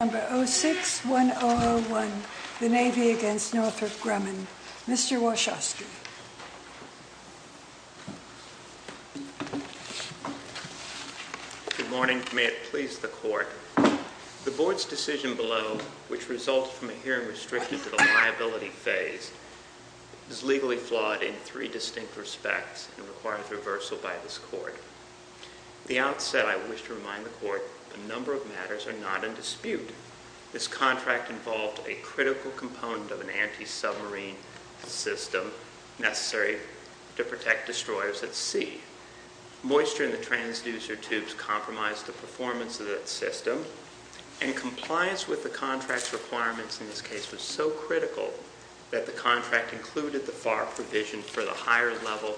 No. 06-1001, the Navy v. Northrop Grumman. Mr. Wachowski. Good morning. May it please the Court. The Board's decision below, which results from a hearing restricted to the liability phase, is legally flawed in three distinct respects and requires reversal by this Court. At the outset, I wish to remind the Court that a This contract involved a critical component of an anti-submarine system necessary to protect destroyers at sea. Moisture in the transducer tubes compromised the performance of that system, and compliance with the contract's requirements in this case was so critical that the contract included the FAR provision for the higher-level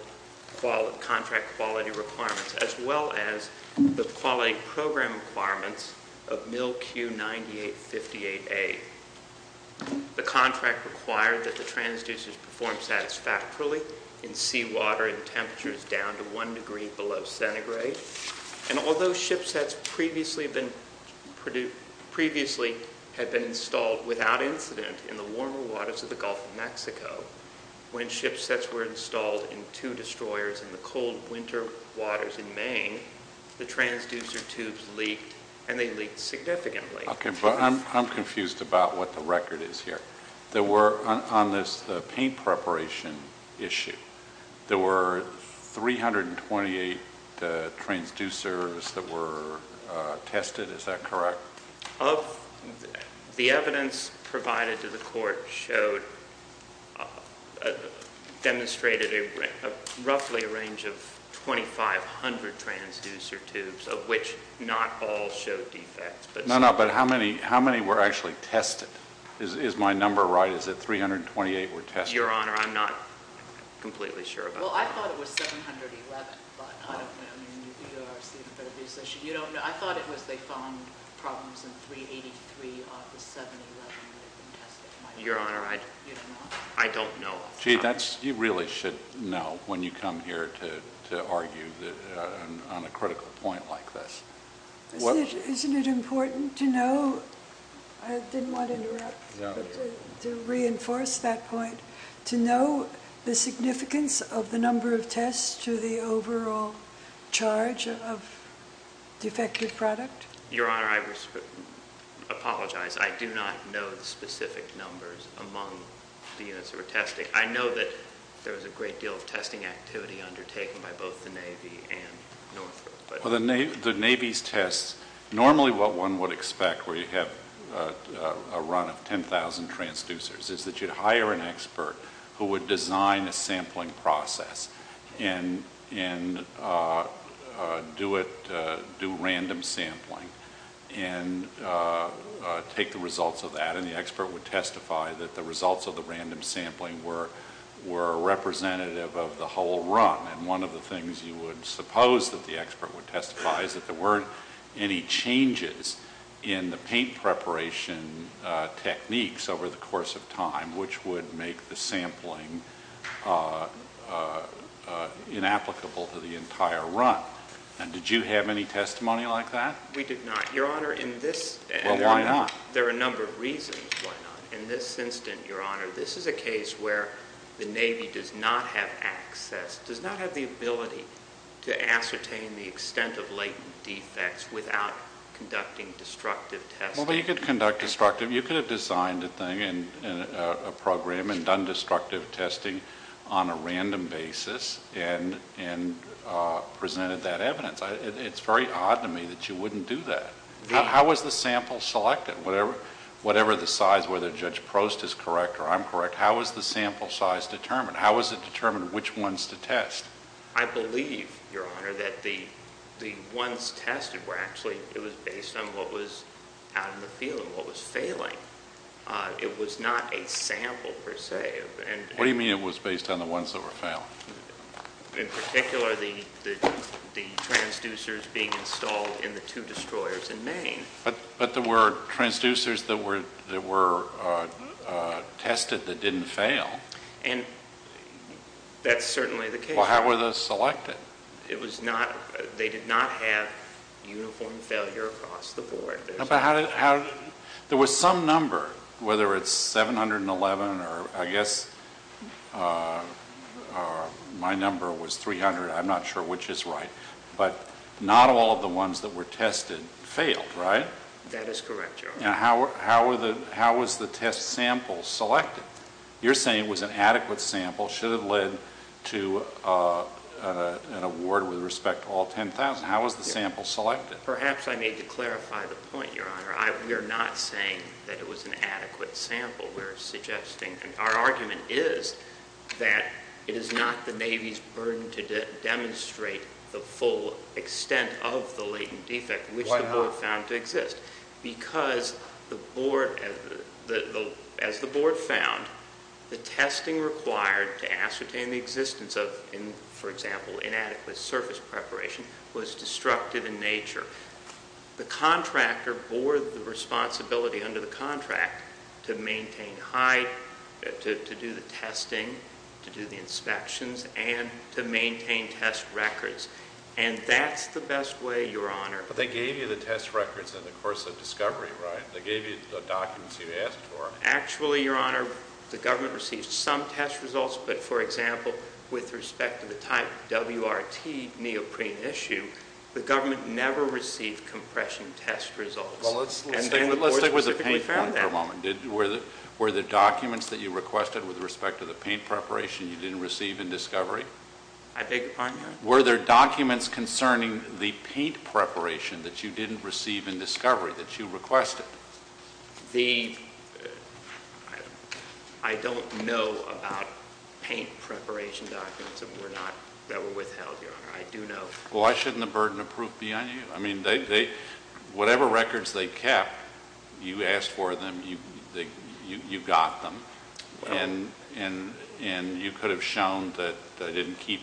contract quality requirements as well as the quality program requirements of Mil Q9858A. The contract required that the transducers perform satisfactorily in seawater in temperatures down to one degree below centigrade, and although shipsets previously had been installed without incident in the warmer waters of the Gulf of Mexico, when shipsets were installed in two destroyers in the cold winter waters in Maine, the transducer tubes leaked, and they leaked significantly. Okay, but I'm confused about what the record is here. There were, on this paint preparation issue, there were 328 transducers that were tested, is that correct? The evidence provided to the Court demonstrated roughly a range of 2,500 transducer tubes, of which not all showed defects. No, no, but how many were actually tested? Is my number right? Is it 328 were tested? Your Honor, I'm not completely sure about that. Well, I thought it was 711, but I don't know. I thought it was they found problems in 383 out of the 711 that had been tested. Your Honor, I don't know. Gee, you really should know when you come here to argue on a critical point like this. Isn't it important to know, I didn't want to interrupt, but to reinforce that point, to know the significance of the number of tests to the overall charge of defective product? Your Honor, I apologize. I do not know the specific numbers among the units that were tested. I know that there was a great deal of testing activity undertaken by both the Navy and Northrop. Well, the Navy's tests, normally what one would expect where you have a run of 10,000 transducers is that you'd hire an expert who would design a sampling process and do random sampling and take the results of that. The expert would testify that the results of the random sampling were representative of the whole run. One of the things you would suppose that the expert would testify is that there weren't any changes in the paint preparation techniques over the course of time, which would make the sampling inapplicable to the entire run. And did you have any testimony like that? We did not, Your Honor. Well, why not? There are a number of reasons why not. In this instance, Your Honor, this is a case where the Navy does not have access, does not have the ability to ascertain the extent of latent defects without conducting destructive testing. Well, you could conduct destructive. You could have designed a thing, a program, and done destructive testing on a random basis and presented that evidence. It's very odd to me that you wouldn't do that. How was the sample selected? Whatever the size, whether Judge Prost is correct or I'm correct, how was the sample size determined? How was it determined which ones to test? I believe, Your Honor, that the ones tested were actually, it was based on what was out in the field and what was failing. It was not a sample per se. What do you mean it was based on the ones that were failing? In particular, the transducers being installed in the two destroyers in Maine. But there were transducers that were tested that didn't fail. And that's certainly the case. Well, how were those selected? It was not, they did not have uniform failure across the board. But how did, there was some number, whether it's 711 or I guess my number was 300, I'm not sure which is right, but not all of the ones that were tested failed, right? That is correct, Your Honor. How was the test sample selected? You're saying it was an adequate sample, should have led to an award with respect to all 10,000. How was the sample selected? Perhaps I need to clarify the point, Your Honor. We are not saying that it was an adequate sample. We are suggesting, our argument is that it is not the Navy's burden to demonstrate the full extent of the latent defect, which the board found to exist. Because the board, as the board found, the testing required to ascertain the existence of, for example, inadequate surface preparation was destructive in nature. The contractor bore the responsibility under the contract to maintain height, to do the testing, to do the inspections, and to maintain test records. But they gave you the test records in the course of discovery, right? They gave you the documents you asked for. Actually, Your Honor, the government received some test results, but for example, with respect to the type WRT neoprene issue, the government never received compression test results. Well, let's stick with the paint for a moment. Were there documents that you requested with respect to the paint preparation you didn't receive in discovery? I beg your pardon, Your Honor? Were there documents concerning the paint preparation that you didn't receive in discovery that you requested? I don't know about paint preparation documents that were withheld, Your Honor. I do know. Well, why shouldn't the burden of proof be on you? I mean, whatever records they kept, you asked for them, you got them, and you could have shown that they didn't keep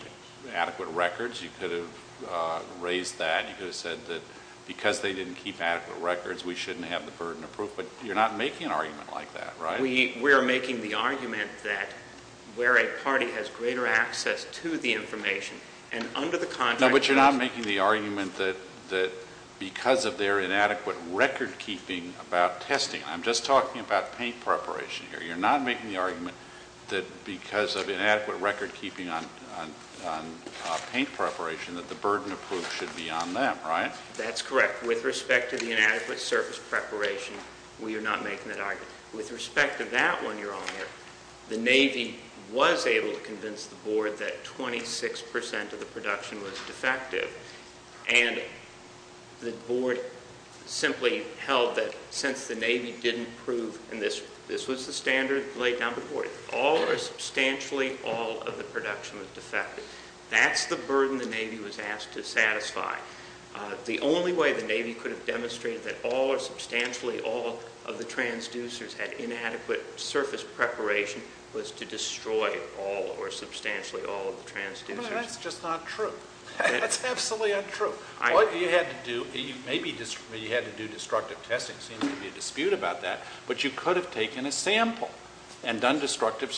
adequate records. You could have raised that. You could have said that because they didn't keep adequate records, we shouldn't have the burden of proof. But you're not making an argument like that, right? We are making the argument that where a party has greater access to the information, and under the contract, there is... No, but you're not making the argument that because of their inadequate record-keeping about testing. I'm just talking about paint preparation here. You're not making the argument that because of inadequate record-keeping on paint preparation that the burden of proof should be on them, right? That's correct. With respect to the inadequate surface preparation, we are not making that argument. With respect to that one, Your Honor, the Navy was able to convince the Board that 26% of the production was defective, and the Board simply held that since the Navy didn't prove and this was the standard laid down before you, all or substantially all of the production was defective. That's the burden the Navy was asked to satisfy. The only way the Navy could have demonstrated that all or substantially all of the transducers had inadequate surface preparation was to destroy all or substantially all of the transducers. But that's just not true. That's absolutely untrue. What you had to do, maybe you had to do destructive testing. There seems to be a dispute about that, but you could have taken a sample and done destructive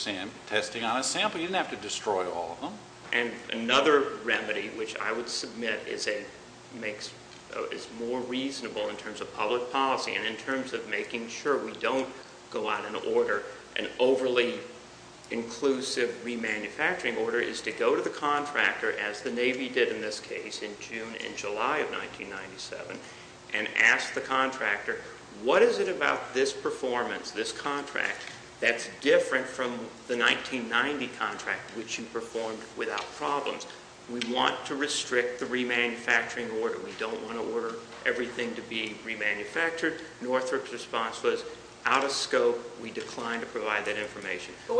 testing on a sample. You didn't have to destroy all of them. And another remedy which I would submit is more reasonable in terms of public policy and in terms of making sure we don't go out and order an overly inclusive remanufacturing order is to go to the contractor, as the Navy did in this case in June and July of 1997, and ask the contractor, what is it about this performance, this contract, that's different from the 1990 contract which you performed without problems? We want to restrict the remanufacturing order. We don't want to order everything to be remanufactured. Northrop's response was out of scope. We declined to provide that information. But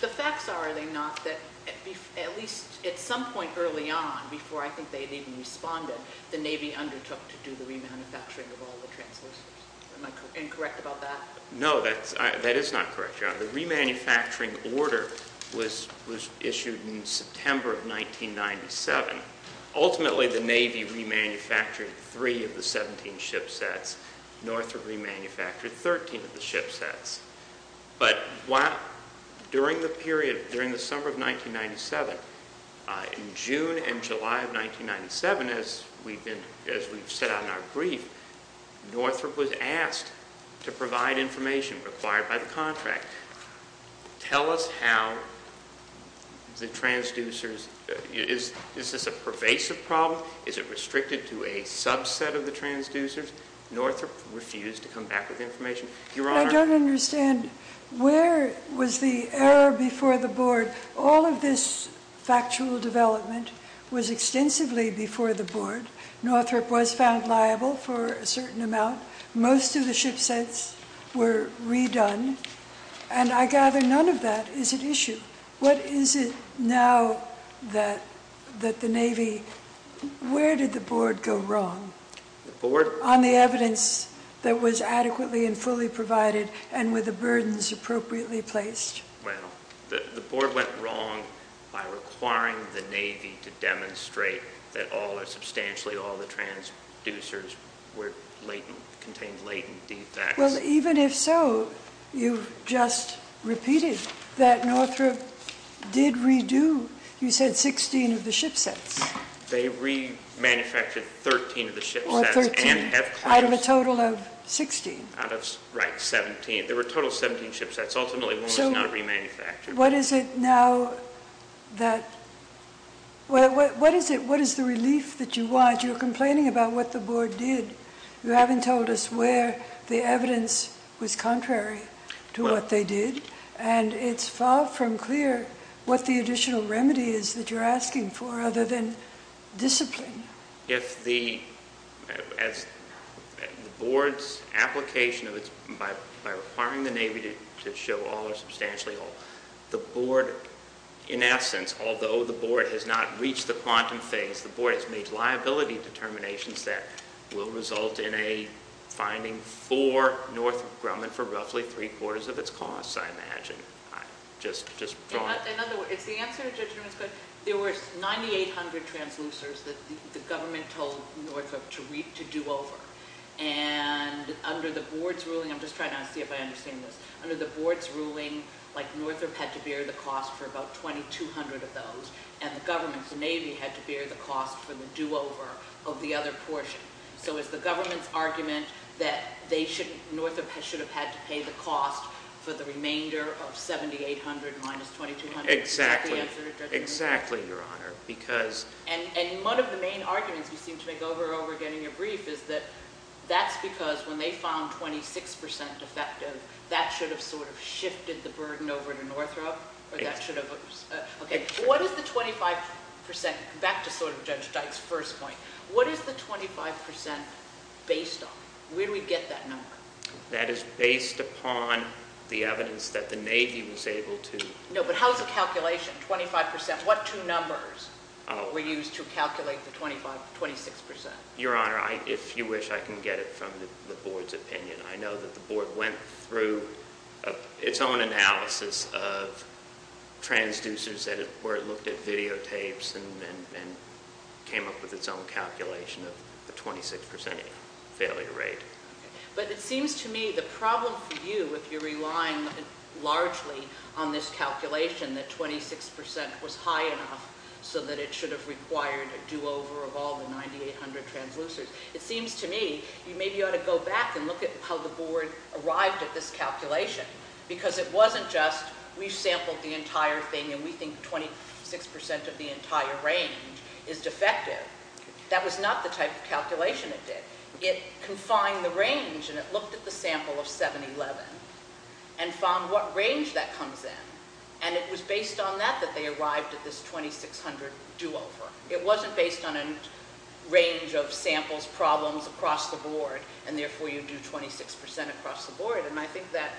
the facts are, are they not, that at least at some point early on, before I think they had even responded, the Navy undertook to do the remanufacturing of all the transducers. Am I incorrect about that? No, that is not correct, John. The remanufacturing order was issued in September of 1997. Ultimately, the Navy remanufactured three of the 17 ship sets. Northrop remanufactured 13 of the ship sets. But during the summer of 1997, in June and July of 1997, as we've set out in our brief, Northrop was asked to provide information required by the contract. Tell us how the transducers, is this a pervasive problem? Is it restricted to a subset of the transducers? Northrop refused to come back with information. I don't understand, where was the error before the Board? All of this factual development was extensively before the Board. Northrop was found liable for a certain amount. Most of the ship sets were redone. And I gather none of that is at issue. What is it now that the Navy, where did the Board go wrong? On the evidence that was adequately and fully provided and with the burdens appropriately placed. Well, the Board went wrong by requiring the Navy to demonstrate that substantially all the transducers contained latent defects. Well, even if so, you've just repeated that Northrop did redo, you said, 16 of the ship sets. They remanufactured 13 of the ship sets. Out of a total of 16. Right, 17. There were a total of 17 ship sets. Ultimately, one was not remanufactured. What is it now that, what is the relief that you want? You're complaining about what the Board did. You haven't told us where the evidence was contrary to what they did. And it's far from clear what the additional remedy is that you're asking for other than discipline. If the, as the Board's application of its, by requiring the Navy to show all or substantially all, the Board, in essence, although the Board has not reached the quantum phase, the Board has made liability determinations that will result in a finding for Northrop Grumman for roughly three-quarters of its costs, I imagine. Just drawing it. In other words, it's the answer to Judge Newman's question. There were 9,800 transducers that the government told Northrop to do over. And under the Board's ruling, I'm just trying to see if I understand this. Under the Board's ruling, like, Northrop had to bear the cost for about 2,200 of those. And the government, the Navy, had to bear the cost for the do-over of the other portion. So is the government's argument that they should, Northrop should have had to pay the cost for the remainder of 7,800 minus 2,200? Exactly. Is that the answer to Judge Newman's question? Exactly, Your Honor. Because. And one of the main arguments you seem to make over and over again in your brief is that that's because when they found 26% defective, that should have sort of shifted the burden over to Northrop? Yes. Okay. What is the 25%? Back to sort of Judge Dyke's first point. What is the 25% based on? Where do we get that number? That is based upon the evidence that the Navy was able to. No, but how is the calculation, 25%? What two numbers were used to calculate the 26%? Your Honor, if you wish, I can get it from the Board's opinion. I know that the Board went through its own analysis of transducers where it looked at videotapes and came up with its own calculation of the 26% failure rate. But it seems to me the problem for you, if you're relying largely on this calculation, that 26% was high enough so that it should have required a do-over of all the 9,800 transducers, it seems to me you maybe ought to go back and look at how the Board arrived at this calculation because it wasn't just we've sampled the entire thing and we think 26% of the entire range is defective. That was not the type of calculation it did. It confined the range and it looked at the sample of 711 and found what range that comes in. And it was based on that that they arrived at this 2,600 do-over. It wasn't based on a range of samples, problems across the Board, and therefore you do 26% across the Board. And I think that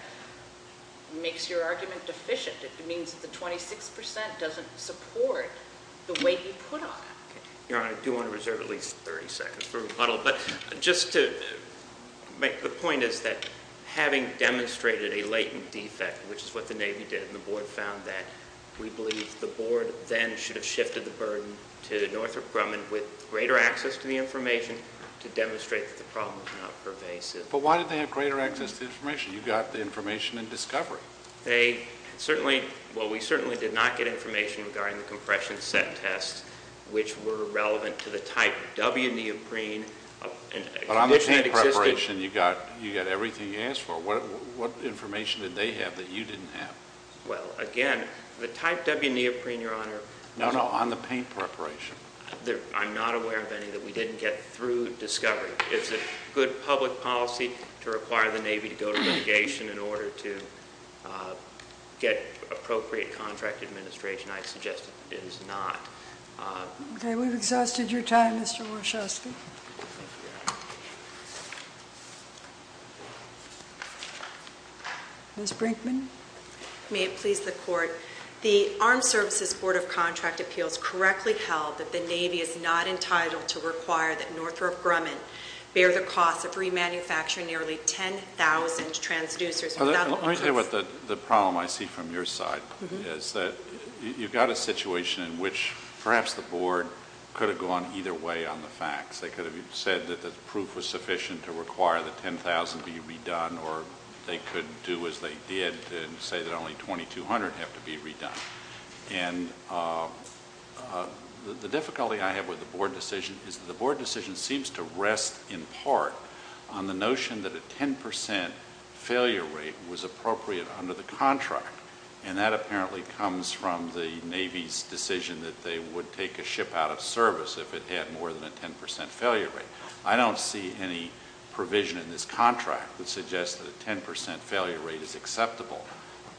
makes your argument deficient. It means that the 26% doesn't support the weight you put on it. Your Honor, I do want to reserve at least 30 seconds for rebuttal. But just to make the point is that having demonstrated a latent defect, which is what the Navy did and the Board found that, we believe the Board then should have shifted the burden to Northrop Grumman with greater access to the information to demonstrate that the problem was not pervasive. But why did they have greater access to information? You got the information in discovery. Well, we certainly did not get information regarding the compression set tests, which were relevant to the type W neoprene. But on the paint preparation, you got everything you asked for. What information did they have that you didn't have? Well, again, the type W neoprene, Your Honor, No, no, on the paint preparation. I'm not aware of any that we didn't get through discovery. It's a good public policy to require the Navy to go to litigation in order to get appropriate contract administration. I suggest it is not. Okay. We've exhausted your time, Mr. Warshawski. Thank you, Your Honor. Ms. Brinkman. May it please the Court, the Armed Services Board of Contract Appeals correctly held that the Navy is not entitled to require that Northrop Grumman bear the cost of remanufacturing nearly 10,000 transducers. Let me tell you what the problem I see from your side is. You've got a situation in which perhaps the Board could have gone either way on the facts. They could have said that the proof was sufficient to require the 10,000 be redone, or they could do as they did and say that only 2,200 have to be redone. And the difficulty I have with the Board decision is that the Board decision seems to rest in part on the notion that a 10% failure rate was appropriate under the contract, and that apparently comes from the Navy's decision that they would take a ship out of service if it had more than a 10% failure rate. I don't see any provision in this contract that suggests that a 10% failure rate is acceptable,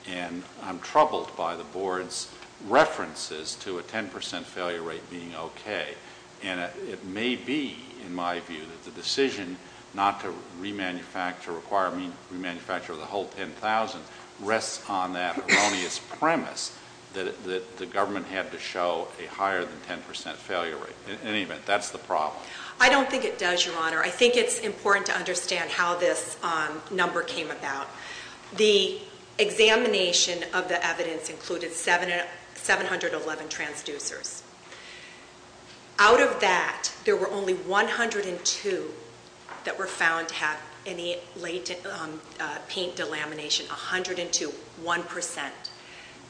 and I'm troubled by the Board's references to a 10% failure rate being okay. And it may be, in my view, that the decision not to remanufacture, require a remanufacture of the whole 10,000, rests on that erroneous premise that the government had to show a higher than 10% failure rate. In any event, that's the problem. I don't think it does, Your Honor. I think it's important to understand how this number came about. The examination of the evidence included 711 transducers. Out of that, there were only 102 that were found to have any late paint delamination, 102, 1%.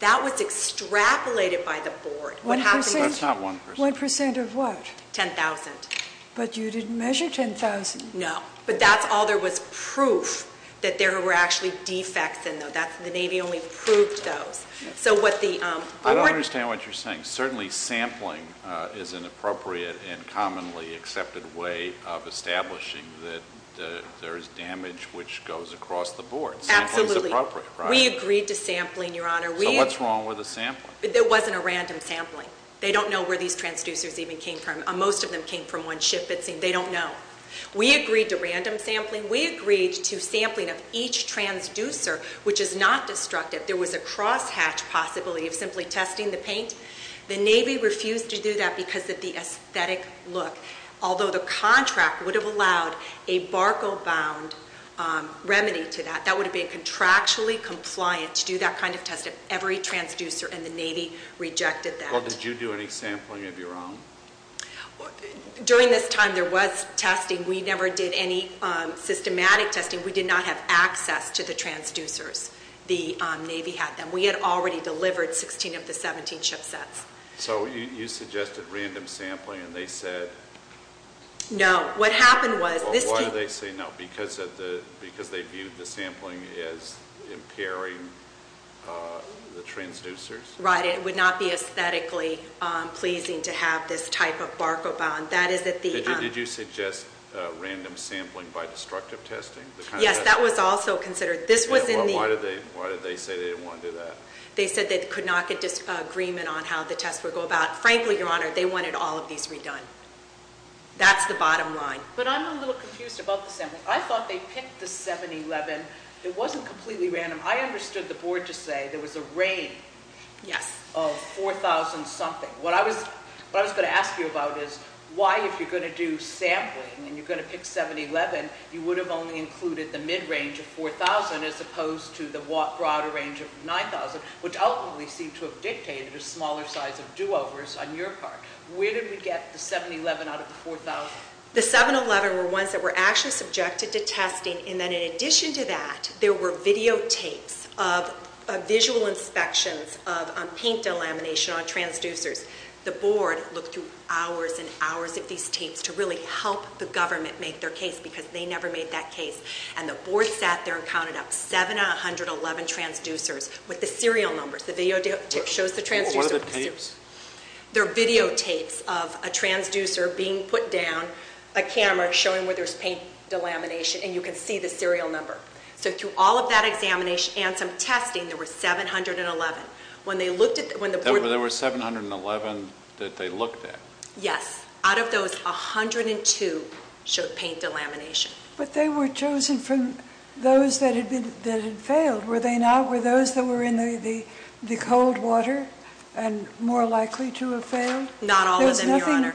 That was extrapolated by the Board. 1%? That's not 1%. 1% of what? 10,000. But you didn't measure 10,000. No. But that's all there was proof that there were actually defects in them. The Navy only proved those. I don't understand what you're saying. Certainly, sampling is an appropriate and commonly accepted way of establishing that there is damage which goes across the Board. Absolutely. Sampling is appropriate. We agreed to sampling, Your Honor. So what's wrong with the sampling? It wasn't a random sampling. Most of them came from one ship, it seems. They don't know. We agreed to random sampling. We agreed to sampling of each transducer, which is not destructive. There was a crosshatch possibility of simply testing the paint. The Navy refused to do that because of the aesthetic look, although the contract would have allowed a barco-bound remedy to that. That would have been contractually compliant to do that kind of testing. Every transducer in the Navy rejected that. Well, did you do any sampling of your own? During this time, there was testing. We never did any systematic testing. We did not have access to the transducers. The Navy had them. We had already delivered 16 of the 17 ship sets. So you suggested random sampling, and they said? No. What happened was this came. Why did they say no? Because they viewed the sampling as impairing the transducers? Right. It would not be aesthetically pleasing to have this type of barco-bound. Did you suggest random sampling by destructive testing? Yes. That was also considered. Why did they say they didn't want to do that? They said they could not get disagreement on how the tests would go about. Frankly, Your Honor, they wanted all of these redone. That's the bottom line. But I'm a little confused about the sampling. I thought they picked the 711. It wasn't completely random. I understood the board to say there was a raid. Yes. Of 4,000-something. What I was going to ask you about is why, if you're going to do sampling and you're going to pick 711, you would have only included the mid-range of 4,000 as opposed to the broader range of 9,000, which ultimately seemed to have dictated a smaller size of do-overs on your part. Where did we get the 711 out of the 4,000? The 711 were ones that were actually subjected to testing, and then in addition to that, there were videotapes of visual inspections on paint delamination on transducers. The board looked through hours and hours of these tapes to really help the government make their case because they never made that case, and the board sat there and counted up 711 transducers with the serial numbers. The videotape shows the transducers. What are the tapes? They're videotapes of a transducer being put down, a camera showing where there's paint delamination, and you can see the serial number. So through all of that examination and some testing, there were 711. There were 711 that they looked at? Yes. Out of those, 102 showed paint delamination. But they were chosen from those that had failed, were they not? Were those that were in the cold water more likely to have failed? Not all of them, Your Honor.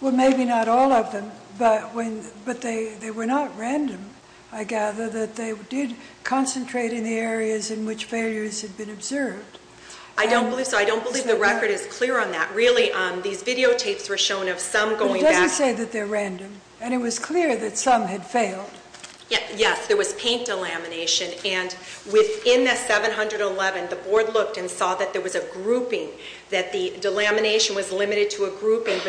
Well, maybe not all of them, but they were not random, I gather, that they did concentrate in the areas in which failures had been observed. I don't believe so. I don't believe the record is clear on that. Really, these videotapes were shown of some going back. It doesn't say that they're random, and it was clear that some had failed. Yes, there was paint delamination, and within the 711, the board looked and saw that there was a grouping, that the delamination was limited to a grouping of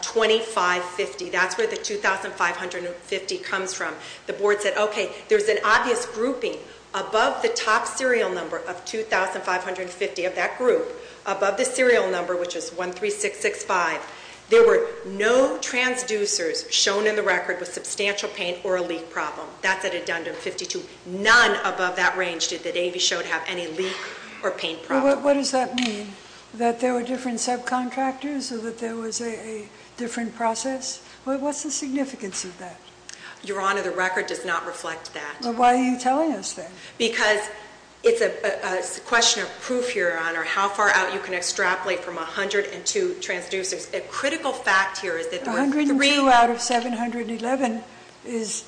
2,550. That's where the 2,550 comes from. The board said, okay, there's an obvious grouping above the top serial number of 2,550 of that group, above the serial number, which is 13665. There were no transducers shown in the record with substantial paint or a leak problem. That's at addendum 52. None above that range did the DAV show to have any leak or paint problem. What does that mean, that there were different subcontractors or that there was a different process? What's the significance of that? Your Honor, the record does not reflect that. Well, why are you telling us that? Because it's a question of proof, Your Honor, how far out you can extrapolate from 102 transducers. A critical fact here is that there were three— 102 out of 711 is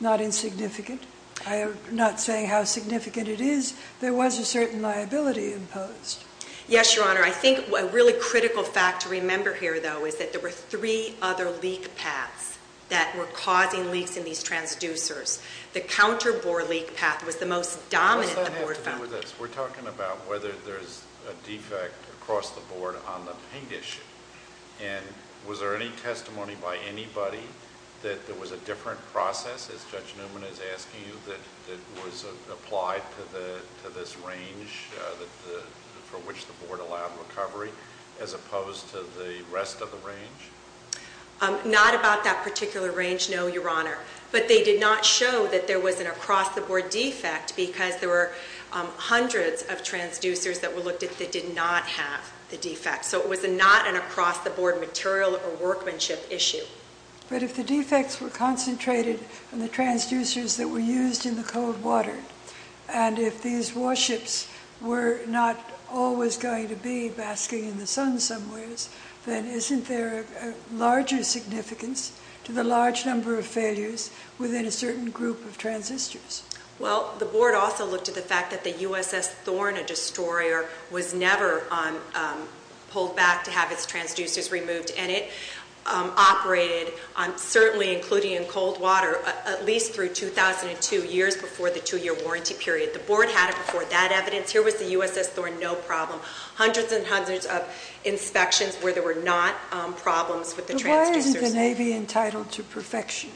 not insignificant. I am not saying how significant it is. There was a certain liability imposed. Yes, Your Honor. I think a really critical fact to remember here, though, is that there were three other leak paths that were causing leaks in these transducers. The counterbore leak path was the most dominant the board found. What does that have to do with this? We're talking about whether there's a defect across the board on the paint issue. And was there any testimony by anybody that there was a different process, as Judge Newman is asking you, that was applied to this range for which the board allowed recovery, as opposed to the rest of the range? Not about that particular range, no, Your Honor. But they did not show that there was an across-the-board defect because there were hundreds of transducers that were looked at that did not have the defect. So it was not an across-the-board material or workmanship issue. But if the defects were concentrated in the transducers that were used in the cold water and if these warships were not always going to be basking in the sun somewhere, then isn't there a larger significance to the large number of failures within a certain group of transistors? Well, the board also looked at the fact that the USS Thorn, a destroyer, was never pulled back to have its transducers removed. And it operated, certainly including in cold water, at least through 2002, years before the two-year warranty period. The board had it before that evidence. Here was the USS Thorn, no problem. Hundreds and hundreds of inspections where there were not problems with the transducers. But why isn't the Navy entitled to perfection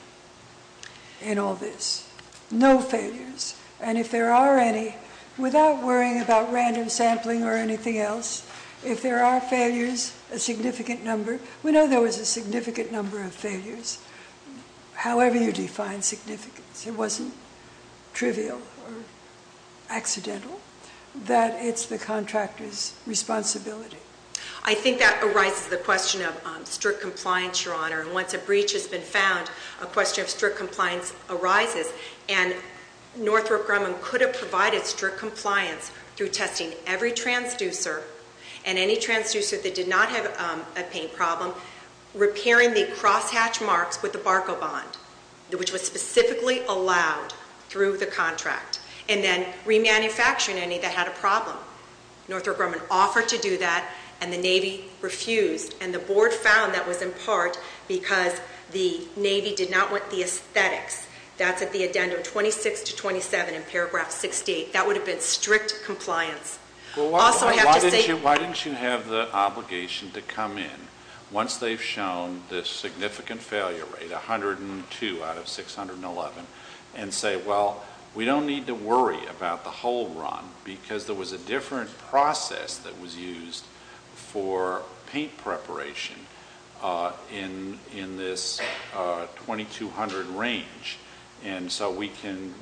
in all this? No failures. And if there are any, without worrying about random sampling or anything else, if there are failures, a significant number. We know there was a significant number of failures, however you define significance. It wasn't trivial or accidental. That it's the contractor's responsibility. I think that arises the question of strict compliance, Your Honor. And once a breach has been found, a question of strict compliance arises. And Northrop Grumman could have provided strict compliance through testing every transducer and any transducer that did not have a paint problem, repairing the crosshatch marks with the barco bond, which was specifically allowed through the contract, and then remanufacturing any that had a problem. Northrop Grumman offered to do that, and the Navy refused. And the board found that was in part because the Navy did not want the aesthetics. That's at the addendum 26 to 27 in paragraph 68. That would have been strict compliance. Also, I have to say- Why didn't you have the obligation to come in once they've shown this significant failure rate, 102 out of 611, and say, well, we don't need to worry about the whole run because there was a different process that was used for paint preparation in this 2200 range. And so we can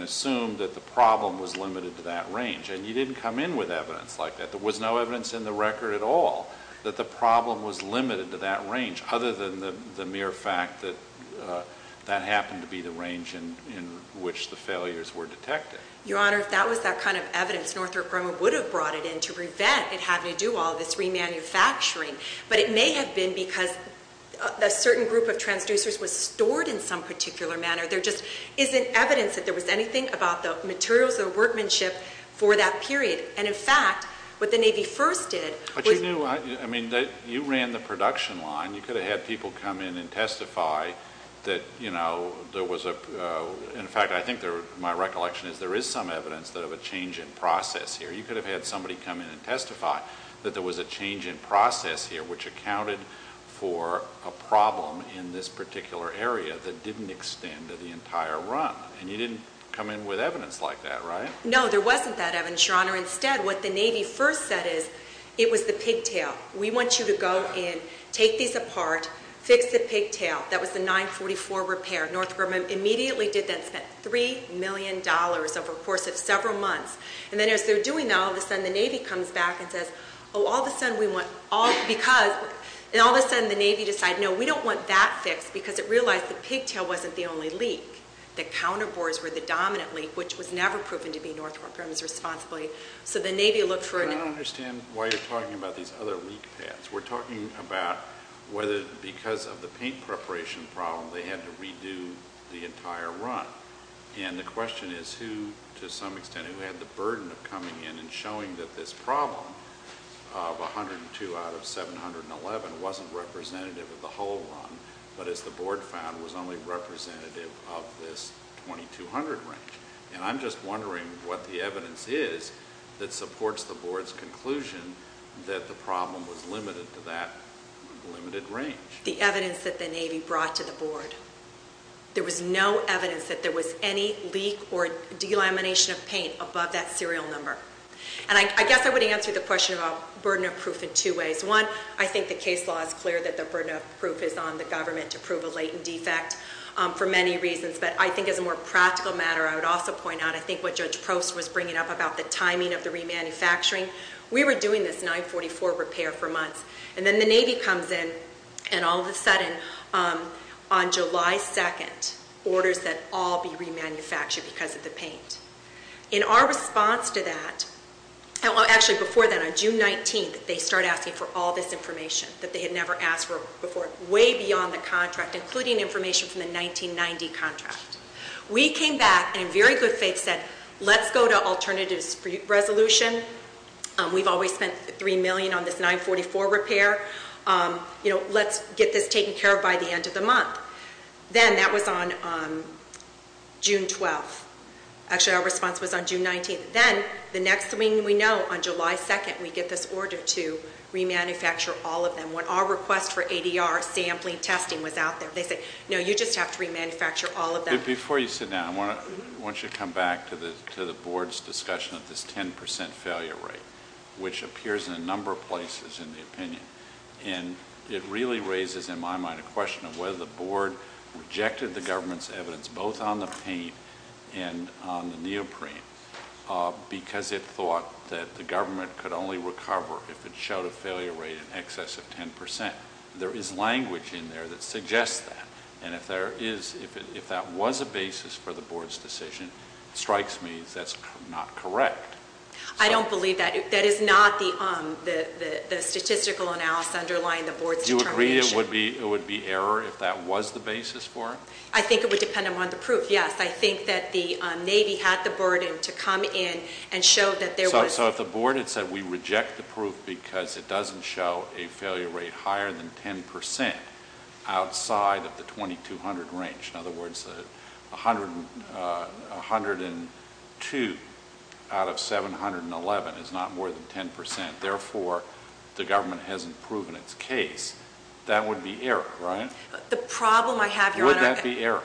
assume that the problem was limited to that range. And you didn't come in with evidence like that. There was no evidence in the record at all that the problem was limited to that range, other than the mere fact that that happened to be the range in which the failures were detected. Your Honor, if that was that kind of evidence, Northrop Grumman would have brought it in to prevent it having to do all this remanufacturing. But it may have been because a certain group of transducers was stored in some particular manner. There just isn't evidence that there was anything about the materials or workmanship for that period. And, in fact, what the Navy first did- But you knew- I mean, you ran the production line. You could have had people come in and testify that, you know, there was a- there is some evidence of a change in process here. You could have had somebody come in and testify that there was a change in process here which accounted for a problem in this particular area that didn't extend to the entire run. And you didn't come in with evidence like that, right? No, there wasn't that evidence, Your Honor. Instead, what the Navy first said is, it was the pigtail. We want you to go in, take these apart, fix the pigtail. That was the 944 repair. Northrop Grumman immediately did that and spent $3 million over the course of several months. And then as they were doing that, all of a sudden the Navy comes back and says, oh, all of a sudden we want all- because- and all of a sudden the Navy decided, no, we don't want that fixed because it realized the pigtail wasn't the only leak. The counterbores were the dominant leak, which was never proven to be Northrop Grumman's responsibility. So the Navy looked for- I don't understand why you're talking about these other leak paths. We're talking about whether because of the paint preparation problem they had to redo the entire run. And the question is who, to some extent, who had the burden of coming in and showing that this problem of 102 out of 711 wasn't representative of the whole run, but as the Board found, was only representative of this 2200 range. And I'm just wondering what the evidence is that supports the Board's conclusion that the problem was limited to that limited range. The evidence that the Navy brought to the Board. There was no evidence that there was any leak or delamination of paint above that serial number. And I guess I would answer the question about burden of proof in two ways. One, I think the case law is clear that the burden of proof is on the government to prove a latent defect for many reasons. But I think as a more practical matter, I would also point out, I think what Judge Prost was bringing up about the timing of the remanufacturing, we were doing this 944 repair for months. And then the Navy comes in and all of a sudden, on July 2nd, orders that all be remanufactured because of the paint. In our response to that, actually before that, on June 19th, they start asking for all this information that they had never asked for before, way beyond the contract, including information from the 1990 contract. We came back and in very good faith said, let's go to alternative resolution. We've always spent $3 million on this 944 repair. Let's get this taken care of by the end of the month. Then that was on June 12th. Actually, our response was on June 19th. Then the next thing we know, on July 2nd, we get this order to remanufacture all of them. When our request for ADR sampling testing was out there, they said, no, you just have to remanufacture all of them. Before you sit down, I want you to come back to the board's discussion of this 10% failure rate, which appears in a number of places in the opinion. It really raises in my mind a question of whether the board rejected the government's evidence, both on the paint and on the neoprene, because it thought that the government could only recover if it showed a failure rate in excess of 10%. There is language in there that suggests that. If that was a basis for the board's decision, it strikes me that's not correct. I don't believe that. That is not the statistical analysis underlying the board's determination. Do you agree it would be error if that was the basis for it? I think it would depend upon the proof, yes. I think that the Navy had the burden to come in and show that there was – So if the board had said we reject the proof because it doesn't show a failure rate higher than 10% outside of the 2200 range, in other words, 102 out of 711 is not more than 10%, therefore the government hasn't proven its case, that would be error, right? The problem I have, Your Honor – Would that be error?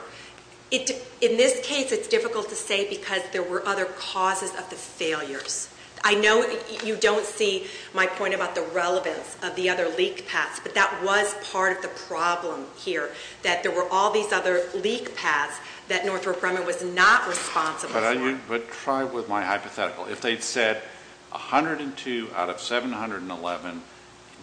In this case, it's difficult to say because there were other causes of the failures. I know you don't see my point about the relevance of the other leak paths, but that was part of the problem here, that there were all these other leak paths that Northrop Grumman was not responsible for. But try with my hypothetical. If they'd said 102 out of 711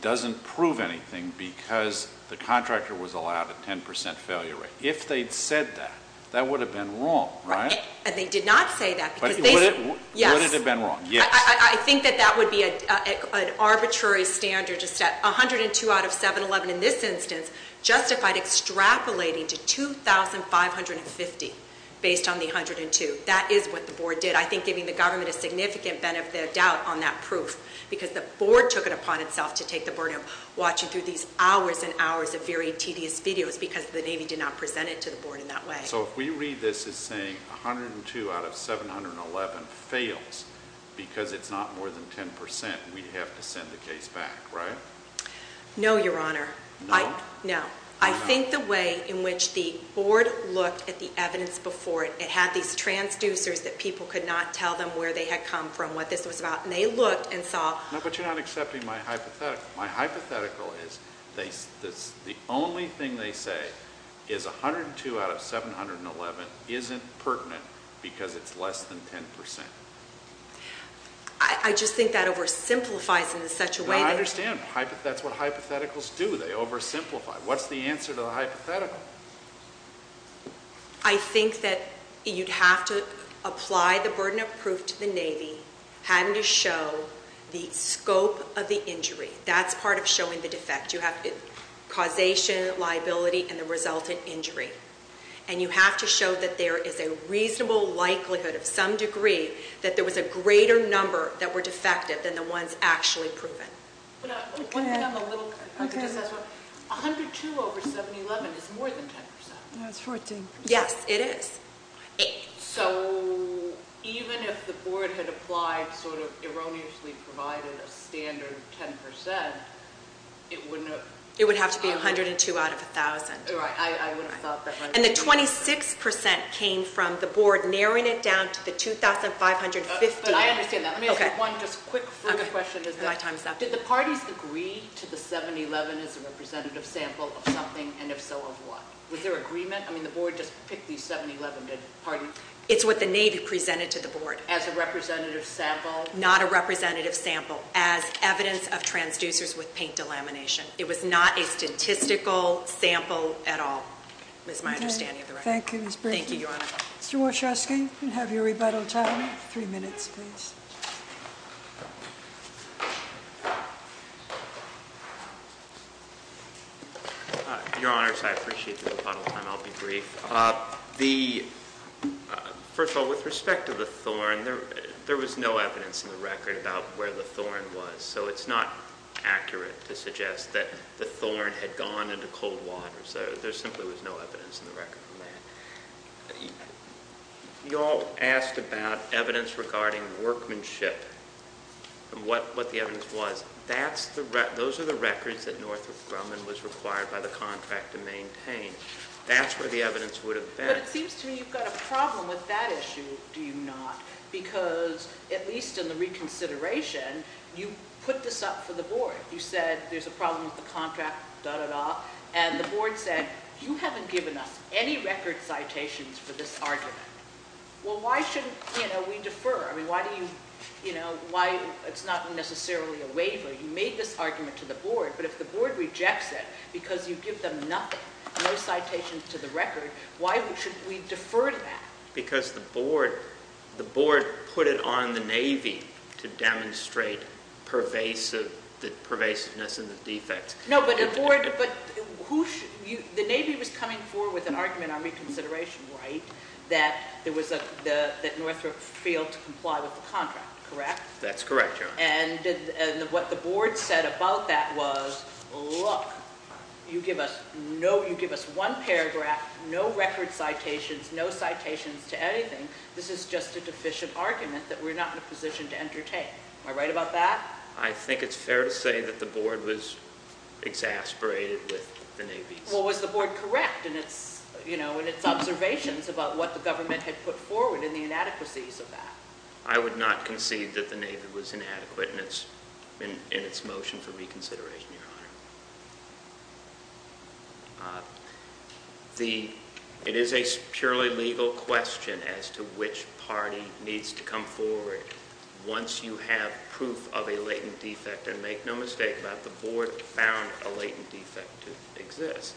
doesn't prove anything because the contractor was allowed a 10% failure rate, if they'd said that, that would have been wrong, right? And they did not say that because they – Would it have been wrong? Yes. I think that that would be an arbitrary standard to set. 102 out of 711 in this instance justified extrapolating to 2550 based on the 102. That is what the board did. I think giving the government a significant benefit of doubt on that proof because the board took it upon itself to take the burden of watching through these hours and hours of very tedious videos because the Navy did not present it to the board in that way. So if we read this as saying 102 out of 711 fails because it's not more than 10%, we'd have to send the case back, right? No, Your Honor. No? No. I think the way in which the board looked at the evidence before it, it had these transducers that people could not tell them where they had come from, what this was about, and they looked and saw – No, but you're not accepting my hypothetical. The only thing they say is 102 out of 711 isn't pertinent because it's less than 10%. I just think that oversimplifies it in such a way that – No, I understand. That's what hypotheticals do. They oversimplify. What's the answer to the hypothetical? I think that you'd have to apply the burden of proof to the Navy having to show the scope of the injury. That's part of showing the defect. You have causation, liability, and the resultant injury. And you have to show that there is a reasonable likelihood of some degree that there was a greater number that were defective than the ones actually proven. One thing I'm a little – I'll just ask one. 102 over 711 is more than 10%. No, it's 14%. Yes, it is. So even if the board had applied sort of erroneously provided a standard 10%, it wouldn't have – It would have to be 102 out of 1,000. Right, I would have thought that might be – And the 26% came from the board narrowing it down to the 2,550. But I understand that. Let me ask one just quick further question. My time is up. Did the parties agree to the 711 as a representative sample of something, and if so, of what? Was there agreement? I mean, the board just picked the 711. Pardon? It's what the Navy presented to the board. As a representative sample? Not a representative sample. As evidence of transducers with paint delamination. It was not a statistical sample at all. That's my understanding of the record. Thank you. Thank you, Your Honor. Mr. Wachowski, you can have your rebuttal time. Three minutes, please. Your Honors, I appreciate the rebuttal time. I'll be brief. First of all, with respect to the thorn, there was no evidence in the record about where the thorn was. So it's not accurate to suggest that the thorn had gone into cold water. So there simply was no evidence in the record on that. You all asked about evidence regarding workmanship. And what the evidence was. Those are the records that Northrop Grumman was required by the contract to maintain. That's where the evidence would have been. But it seems to me you've got a problem with that issue, do you not? Because, at least in the reconsideration, you put this up for the board. You said there's a problem with the contract, da-da-da, and the board said you haven't given us any record citations for this argument. Well, why shouldn't we defer? It's not necessarily a waiver. You made this argument to the board, but if the board rejects it because you give them nothing, no citations to the record, why should we defer to that? Because the board put it on the Navy to demonstrate the pervasiveness and the defects. No, but the Navy was coming forward with an argument on reconsideration, right? That Northrop failed to comply with the contract, correct? That's correct, Your Honor. And what the board said about that was, look, you give us one paragraph, no record citations, no citations to anything. This is just a deficient argument that we're not in a position to entertain. Am I right about that? I think it's fair to say that the board was exasperated with the Navy. Well, was the board correct in its observations about what the government had put forward and the inadequacies of that? I would not concede that the Navy was inadequate in its motion for reconsideration, Your Honor. It is a purely legal question as to which party needs to come forward once you have proof of a latent defect, and make no mistake about it, the board found a latent defect to exist,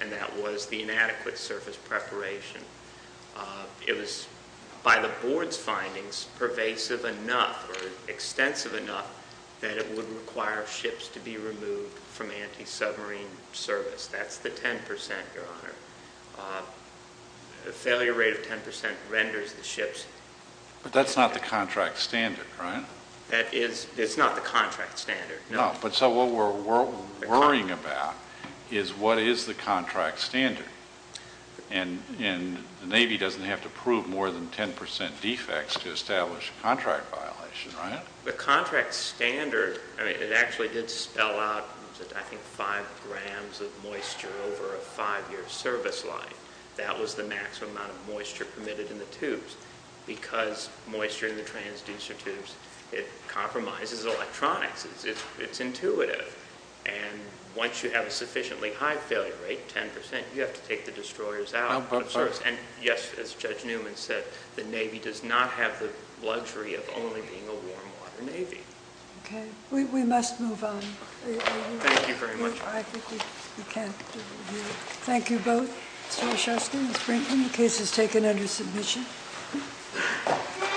and that was the inadequate surface preparation. It was, by the board's findings, pervasive enough or extensive enough that it would require ships to be removed from anti-submarine service. That's the 10%, Your Honor. The failure rate of 10% renders the ships. But that's not the contract standard, right? It's not the contract standard, no. But so what we're worrying about is what is the contract standard, and the Navy doesn't have to prove more than 10% defects to establish a contract violation, right? The contract standard, I mean, it actually did spell out, I think, five grams of moisture over a five-year service life. That was the maximum amount of moisture permitted in the tubes because moisture in the transducer tubes, it compromises electronics. It's intuitive. And once you have a sufficiently high failure rate, 10%, you have to take the destroyers out of service. And, yes, as Judge Newman said, the Navy does not have the luxury of only being a warm-water Navy. Okay. We must move on. Thank you very much. I think we can't do it here. Thank you both, Mr. Wischowsky and Ms. Brinkman. The case is taken under submission.